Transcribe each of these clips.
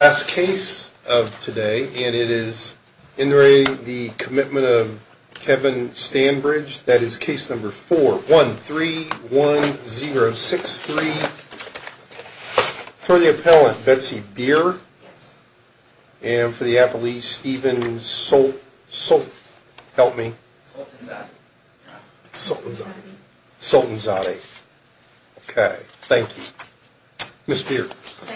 As case of today and it is entering the commitment of Kevin Stanbridge. That is case number 4131063 for the appellant Betsy beer. And for the Apple East even so so help me. So Sultanzade. Okay. Thank you. Miss beer. For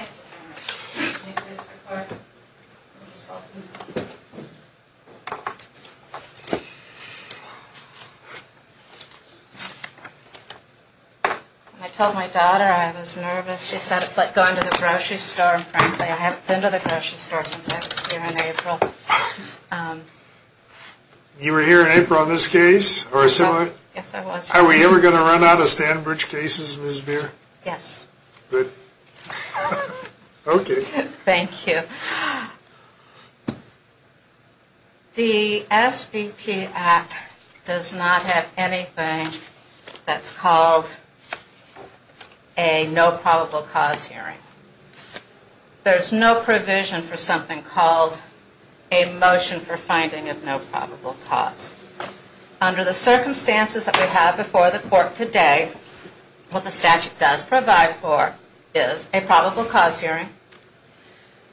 I told my daughter I was nervous. She said it's like going to the grocery store. Frankly. I haven't been to the grocery store since I was here in April. You were here in April on this case or similar. Yes, I was. Are we ever going to run out of Stanbridge cases? Miss beer? Yes. Good. Okay. Thank you. The SPP Act does not have anything that's called a no probable cause hearing. There's no provision for something called a motion for finding of no probable cause under the circumstances that we have before the court today. What the statute does provide for is a probable cause hearing.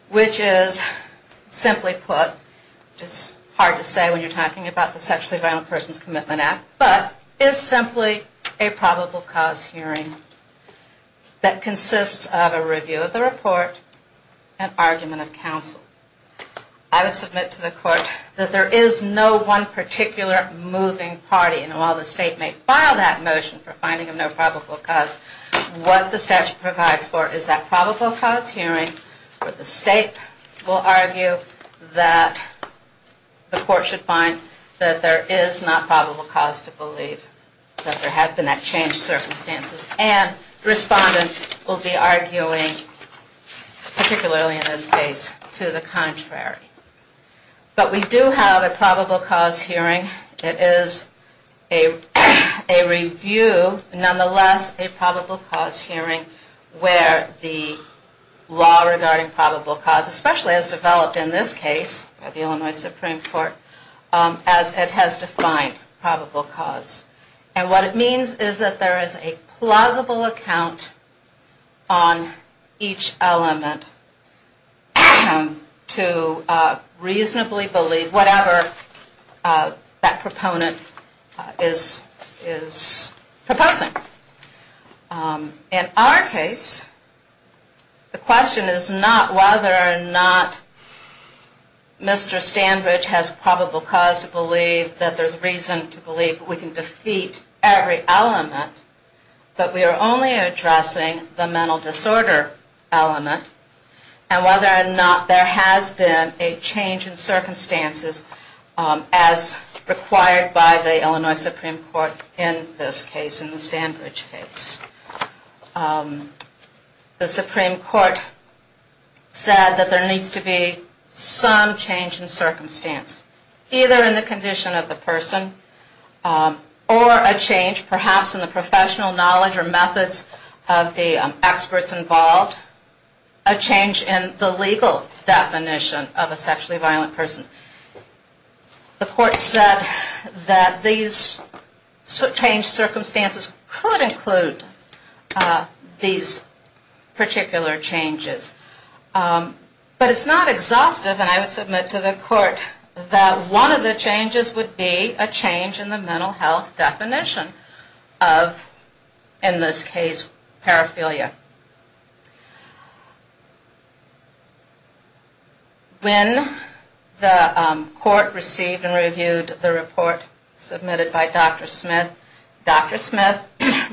Which is simply put just hard to say when you're talking about the sexually violent persons commitment Act, but is simply a probable cause hearing. That consists of a review of the report and argument of counsel. I would submit to the court that there is no one particular moving party. And while the state may file that motion for finding of no probable cause, what the statute provides for is that probable cause hearing. But the state will argue that the court should find that there is not probable cause to believe that there have been that change circumstances and respondent will be arguing. Particularly in this case to the contrary. But we do have a probable cause hearing. It is a review. Nonetheless, a probable cause hearing where the law regarding probable cause, especially as developed in this case by the Illinois Supreme Court, as it has defined probable cause. And what it means is that there is a plausible account on each element to reasonably believe whatever that proponent is proposing. In our case, the question is not whether or not Mr. Stanbridge has probable cause to believe that there's reason to believe we can defeat every element. But we are only addressing the mental disorder element. And whether or not there has been a change in circumstances as required by the Illinois Supreme Court in this case, in the Stanbridge case. The Supreme Court said that there needs to be some change in circumstance, either in the condition of the person or a change perhaps in the professional knowledge or methods of the experts involved. A change in the legal definition of a sexually violent person. The court said that these change circumstances could include these particular changes. But it's not exhaustive and I would submit to the court that one of the changes would be a change in the mental health definition of, in this case, paraphilia. When the court received and reviewed the report submitted by Dr. Smith, Dr. Smith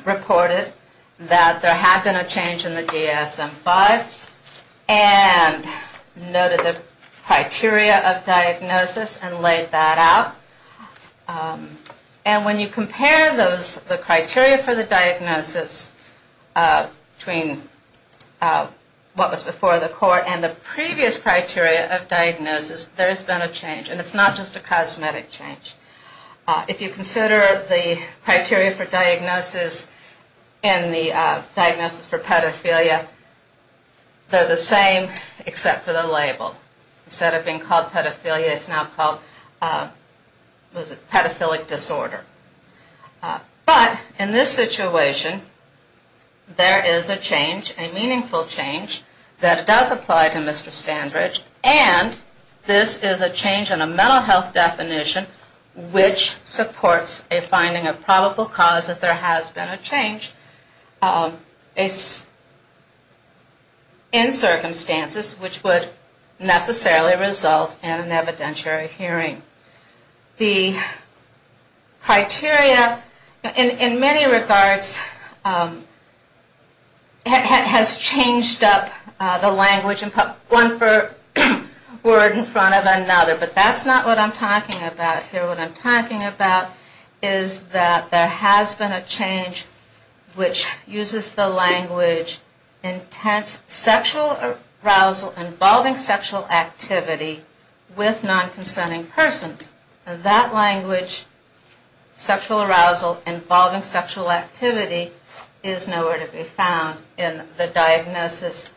reported that there had been a change in the DSM-5 and noted the criteria of diagnosis and laid that out. And when you compare those, the criteria for the diagnosis between what was before the court and the previous criteria of diagnosis, there has been a change. And it's not just a cosmetic change. If you consider the criteria for diagnosis and the diagnosis for pedophilia, they're the same except for the label. Instead of being called pedophilia, it's now called pedophilic disorder. But in this situation, there is a change, a meaningful change, that does apply to Mr. Standridge and this is a change in a mental health definition which supports a finding of probable cause that there has been a change in circumstances which would necessarily result in an evidentiary hearing. The criteria in many regards has changed up the language and put one word in front of another, but that's not what I'm talking about here. What I'm talking about is that there has been a change which uses the language intense sexual arousal involving sexual activity with non-consenting persons. That language, sexual arousal involving sexual activity, is nowhere to be found in the diagnosis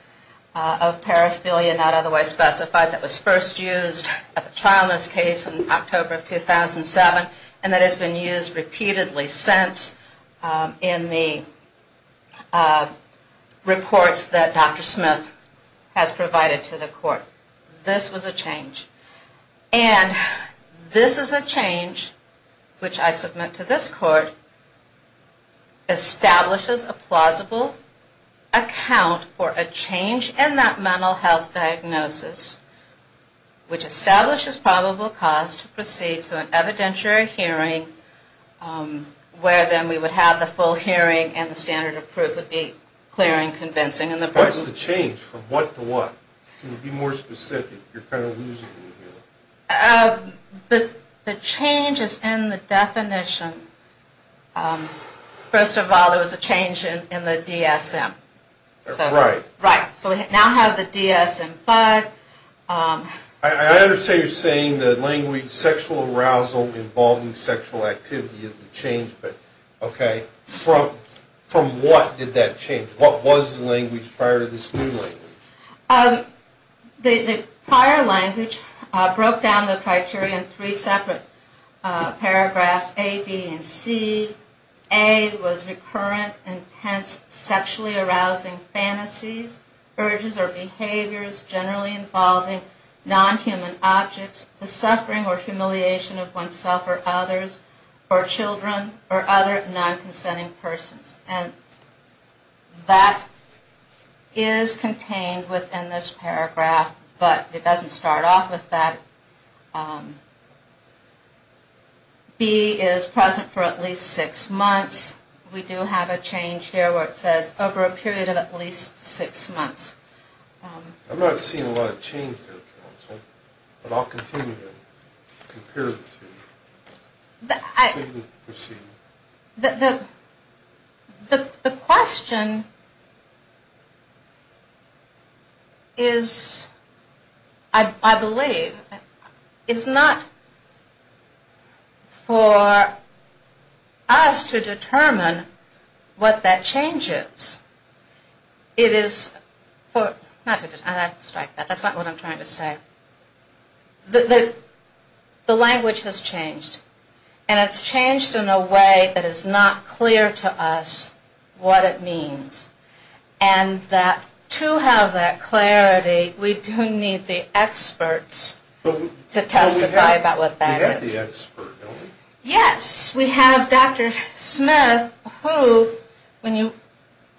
of paraphilia not otherwise specified that was first used at the trial in this case in October of 2007 and that has been used repeatedly since in the reports that Dr. Smith has provided to the court. This was a change. And this is a change which I submit to this court establishes a plausible account for a change in that mental health diagnosis which establishes probable cause to proceed to an evidentiary hearing where then we would have the full hearing and the standard of proof would be clear and convincing. What's the change? From what to what? Can you be more specific? You're kind of losing me here. The change is in the definition. First of all, there was a change in the DSM. Right. Right. So we now have the DSM-5. I understand you're saying the language sexual arousal involving sexual activity is the change, but okay, from what did that change? What was the language prior to this new language? The prior language broke down the criteria in three separate paragraphs, A, B, and C. A was recurrent, intense, sexually arousing fantasies, urges, or behaviors generally involving non-human objects, the suffering or humiliation of oneself or others, or children, or other non-consenting persons. And that is contained within this paragraph, but it doesn't start off with that. B is present for at least six months. We do have a change here where it says over a period of at least six months. I'm not seeing a lot of change there, counsel, but I'll continue to compare the two. The question is, I believe, is not for us to determine what that change is. It is for, not to, I have to strike that, that's not what I'm trying to say. The language has changed, and it's changed in a way that is not clear to us what it means. And to have that clarity, we do need the experts to testify about what that is. Yes, we have Dr. Smith, who, when you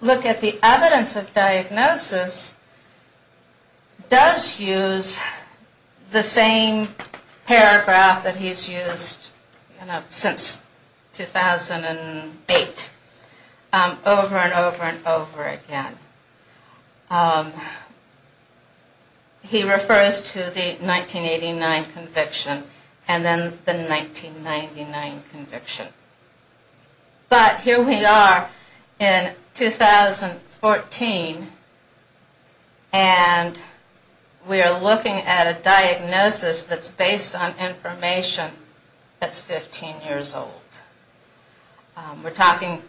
look at the evidence of diagnosis, does use the same paragraph that he's used since 2008, over and over and over again. He refers to the 1989 conviction, and then the 1999 conviction. But here we are in 2014, and we are looking at a diagnosis that's based on information that's 15 years old. We're talking,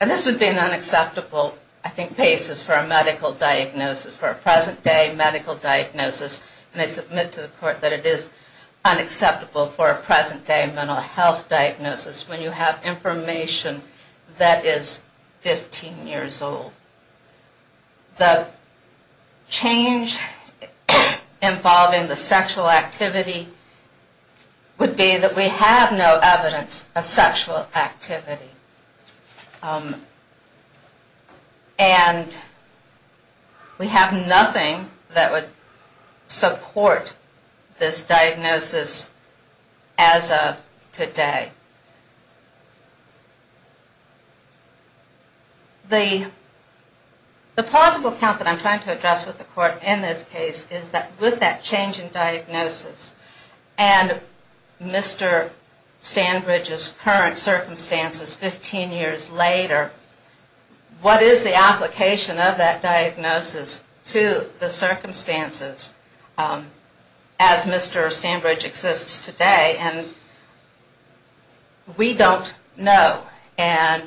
and this would be an unacceptable, I think, basis for a medical diagnosis, for a present day medical diagnosis. And I submit to the court that it is unacceptable for a present day mental health diagnosis when you have information that is 15 years old. The change involving the sexual activity would be that we have no evidence of sexual activity. And we have nothing that would support this diagnosis as of today. The plausible account that I'm trying to address with the court in this case is that with that change in diagnosis, and Mr. Stanbridge's current circumstances 15 years later, what is the application of that diagnosis to the circumstances as Mr. Stanbridge exists today? And we don't know. And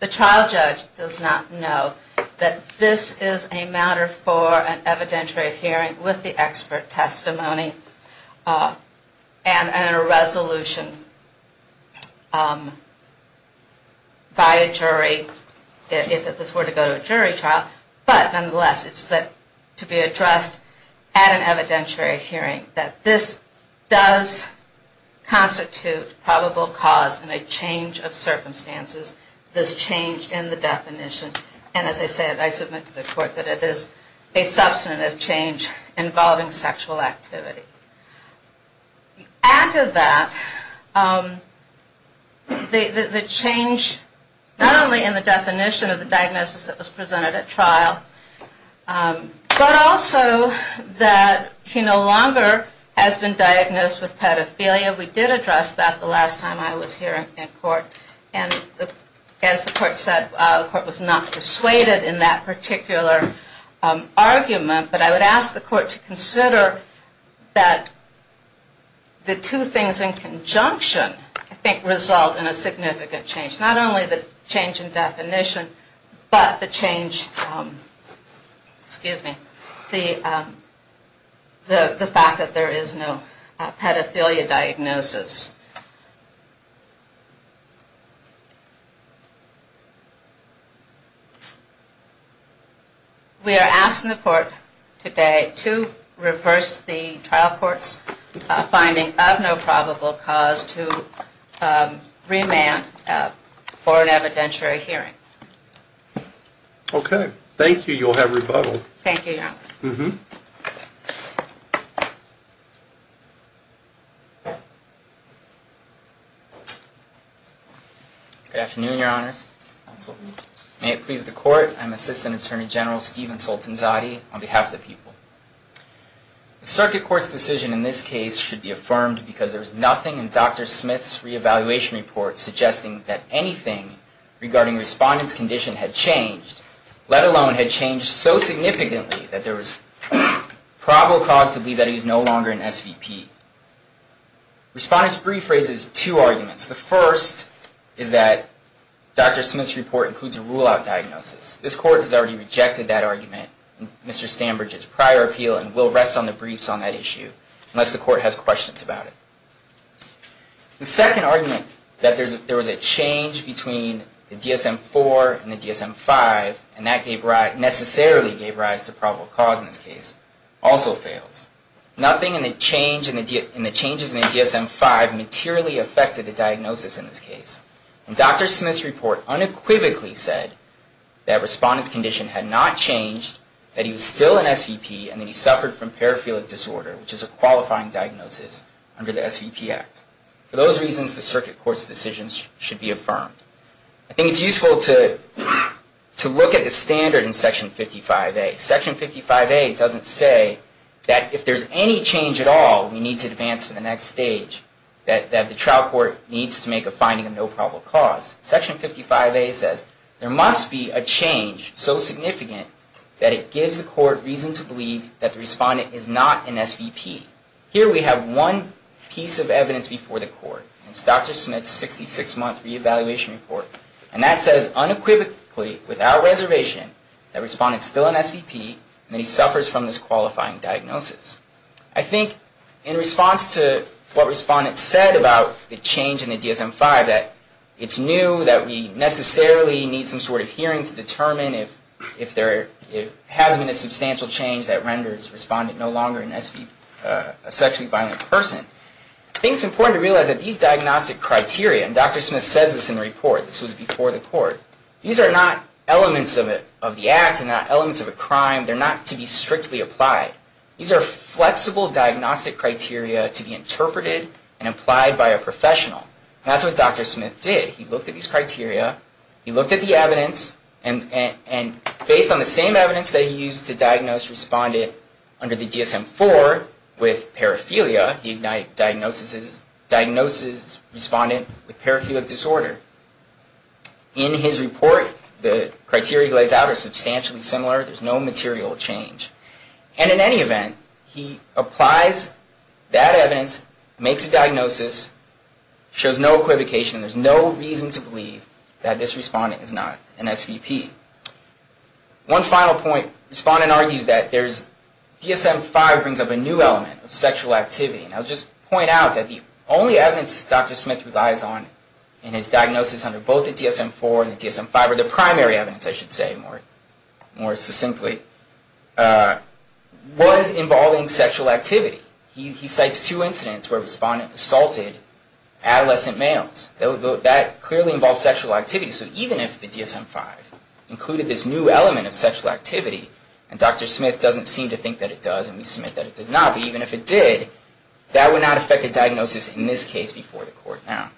the trial judge does not know that this is a matter for an evidentiary hearing with the expert testimony and a resolution by a jury if this were to go to a jury trial. But nonetheless, it's to be addressed at an evidentiary hearing that this does constitute probable cause in a change of circumstances, this change in the definition. And as I said, I submit to the court that it is a substantive change involving sexual activity. After that, the change not only in the definition of the diagnosis that was presented at trial, but also that he no longer has been diagnosed with pedophilia. We did address that the last time I was here in court. And as the court said, the court was not persuaded in that particular argument. But I would ask the court to consider that the two things in conjunction, I think, result in a significant change. Not only the change in definition, but the change, excuse me, the fact that there is no pedophilia diagnosis. We are asking the court today to reverse the trial court's finding of no probable cause to remand for an evidentiary hearing. Okay. Thank you. You'll have rebuttal. Thank you, Your Honor. Mm-hmm. Thank you. Good afternoon, Your Honors. May it please the court. I'm Assistant Attorney General Stephen Soltanzati on behalf of the people. The circuit court's decision in this case should be affirmed because there was nothing in Dr. Smith's re-evaluation report suggesting that anything regarding respondent's condition had changed, let alone had changed so significantly that there was probable cause to believe that he is no longer an SVP. Respondent's brief raises two arguments. The first is that Dr. Smith's report includes a rule-out diagnosis. This court has already rejected that argument in Mr. Stambridge's prior appeal and will rest on the briefs on that issue unless the court has questions about it. The second argument, that there was a change between the DSM-IV and the DSM-V, and that necessarily gave rise to probable cause in this case, also fails. Nothing in the changes in the DSM-V materially affected the diagnosis in this case. And Dr. Smith's report unequivocally said that respondent's condition had not changed, that he was still an SVP, and that he suffered from paraphilic disorder, which is a qualifying diagnosis under the SVP Act. For those reasons, the circuit court's decisions should be affirmed. I think it's useful to look at the standard in Section 55A. Section 55A doesn't say that if there's any change at all, we need to advance to the next stage, that the trial court needs to make a finding of no probable cause. Section 55A says there must be a change so significant that it gives the court reason to believe that the respondent is not an SVP. Here we have one piece of evidence before the court. It's Dr. Smith's 66-month re-evaluation report. And that says unequivocally, without reservation, that respondent's still an SVP, and that he suffers from this qualifying diagnosis. I think in response to what respondent said about the change in the DSM-5, that it's new, that we necessarily need some sort of hearing to determine if there has been a substantial change that renders respondent no longer an SVP, a sexually violent person. I think it's important to realize that these diagnostic criteria, and Dr. Smith says this in the report, this was before the court, these are not elements of the Act and not elements of a crime. They're not to be strictly applied. These are flexible diagnostic criteria to be interpreted and applied by a professional. And that's what Dr. Smith did. He looked at these criteria, he looked at the evidence, and based on the same evidence that he used to diagnose respondent under the DSM-4 with paraphilia, he diagnosed respondent with paraphilic disorder. In his report, the criteria he lays out are substantially similar. There's no material change. And in any event, he applies that evidence, makes a diagnosis, shows no equivocation. There's no reason to believe that this respondent is not an SVP. One final point. Respondent argues that DSM-5 brings up a new element of sexual activity. And I'll just point out that the only evidence Dr. Smith relies on in his diagnosis under both the DSM-4 and the DSM-5, or the primary evidence, I should say, more succinctly, was involving sexual activity. He cites two incidents where respondent assaulted adolescent males. That clearly involves sexual activity. So even if the DSM-5 included this new element of sexual activity, and Dr. Smith doesn't seem to think that it does, and we submit that it does not, but even if it did, that would not affect the diagnosis in this case before the court. Now,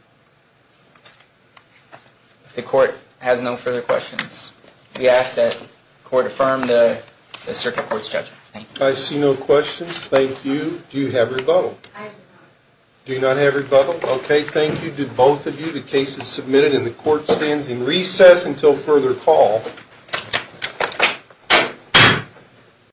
if the court has no further questions, we ask that the court affirm the circuit court's judgment. Thank you. I see no questions. Thank you. Do you have rebuttal? I do not. Do you not have rebuttal? Okay, thank you. Do both of you. The case is submitted and the court stands in recess until further call.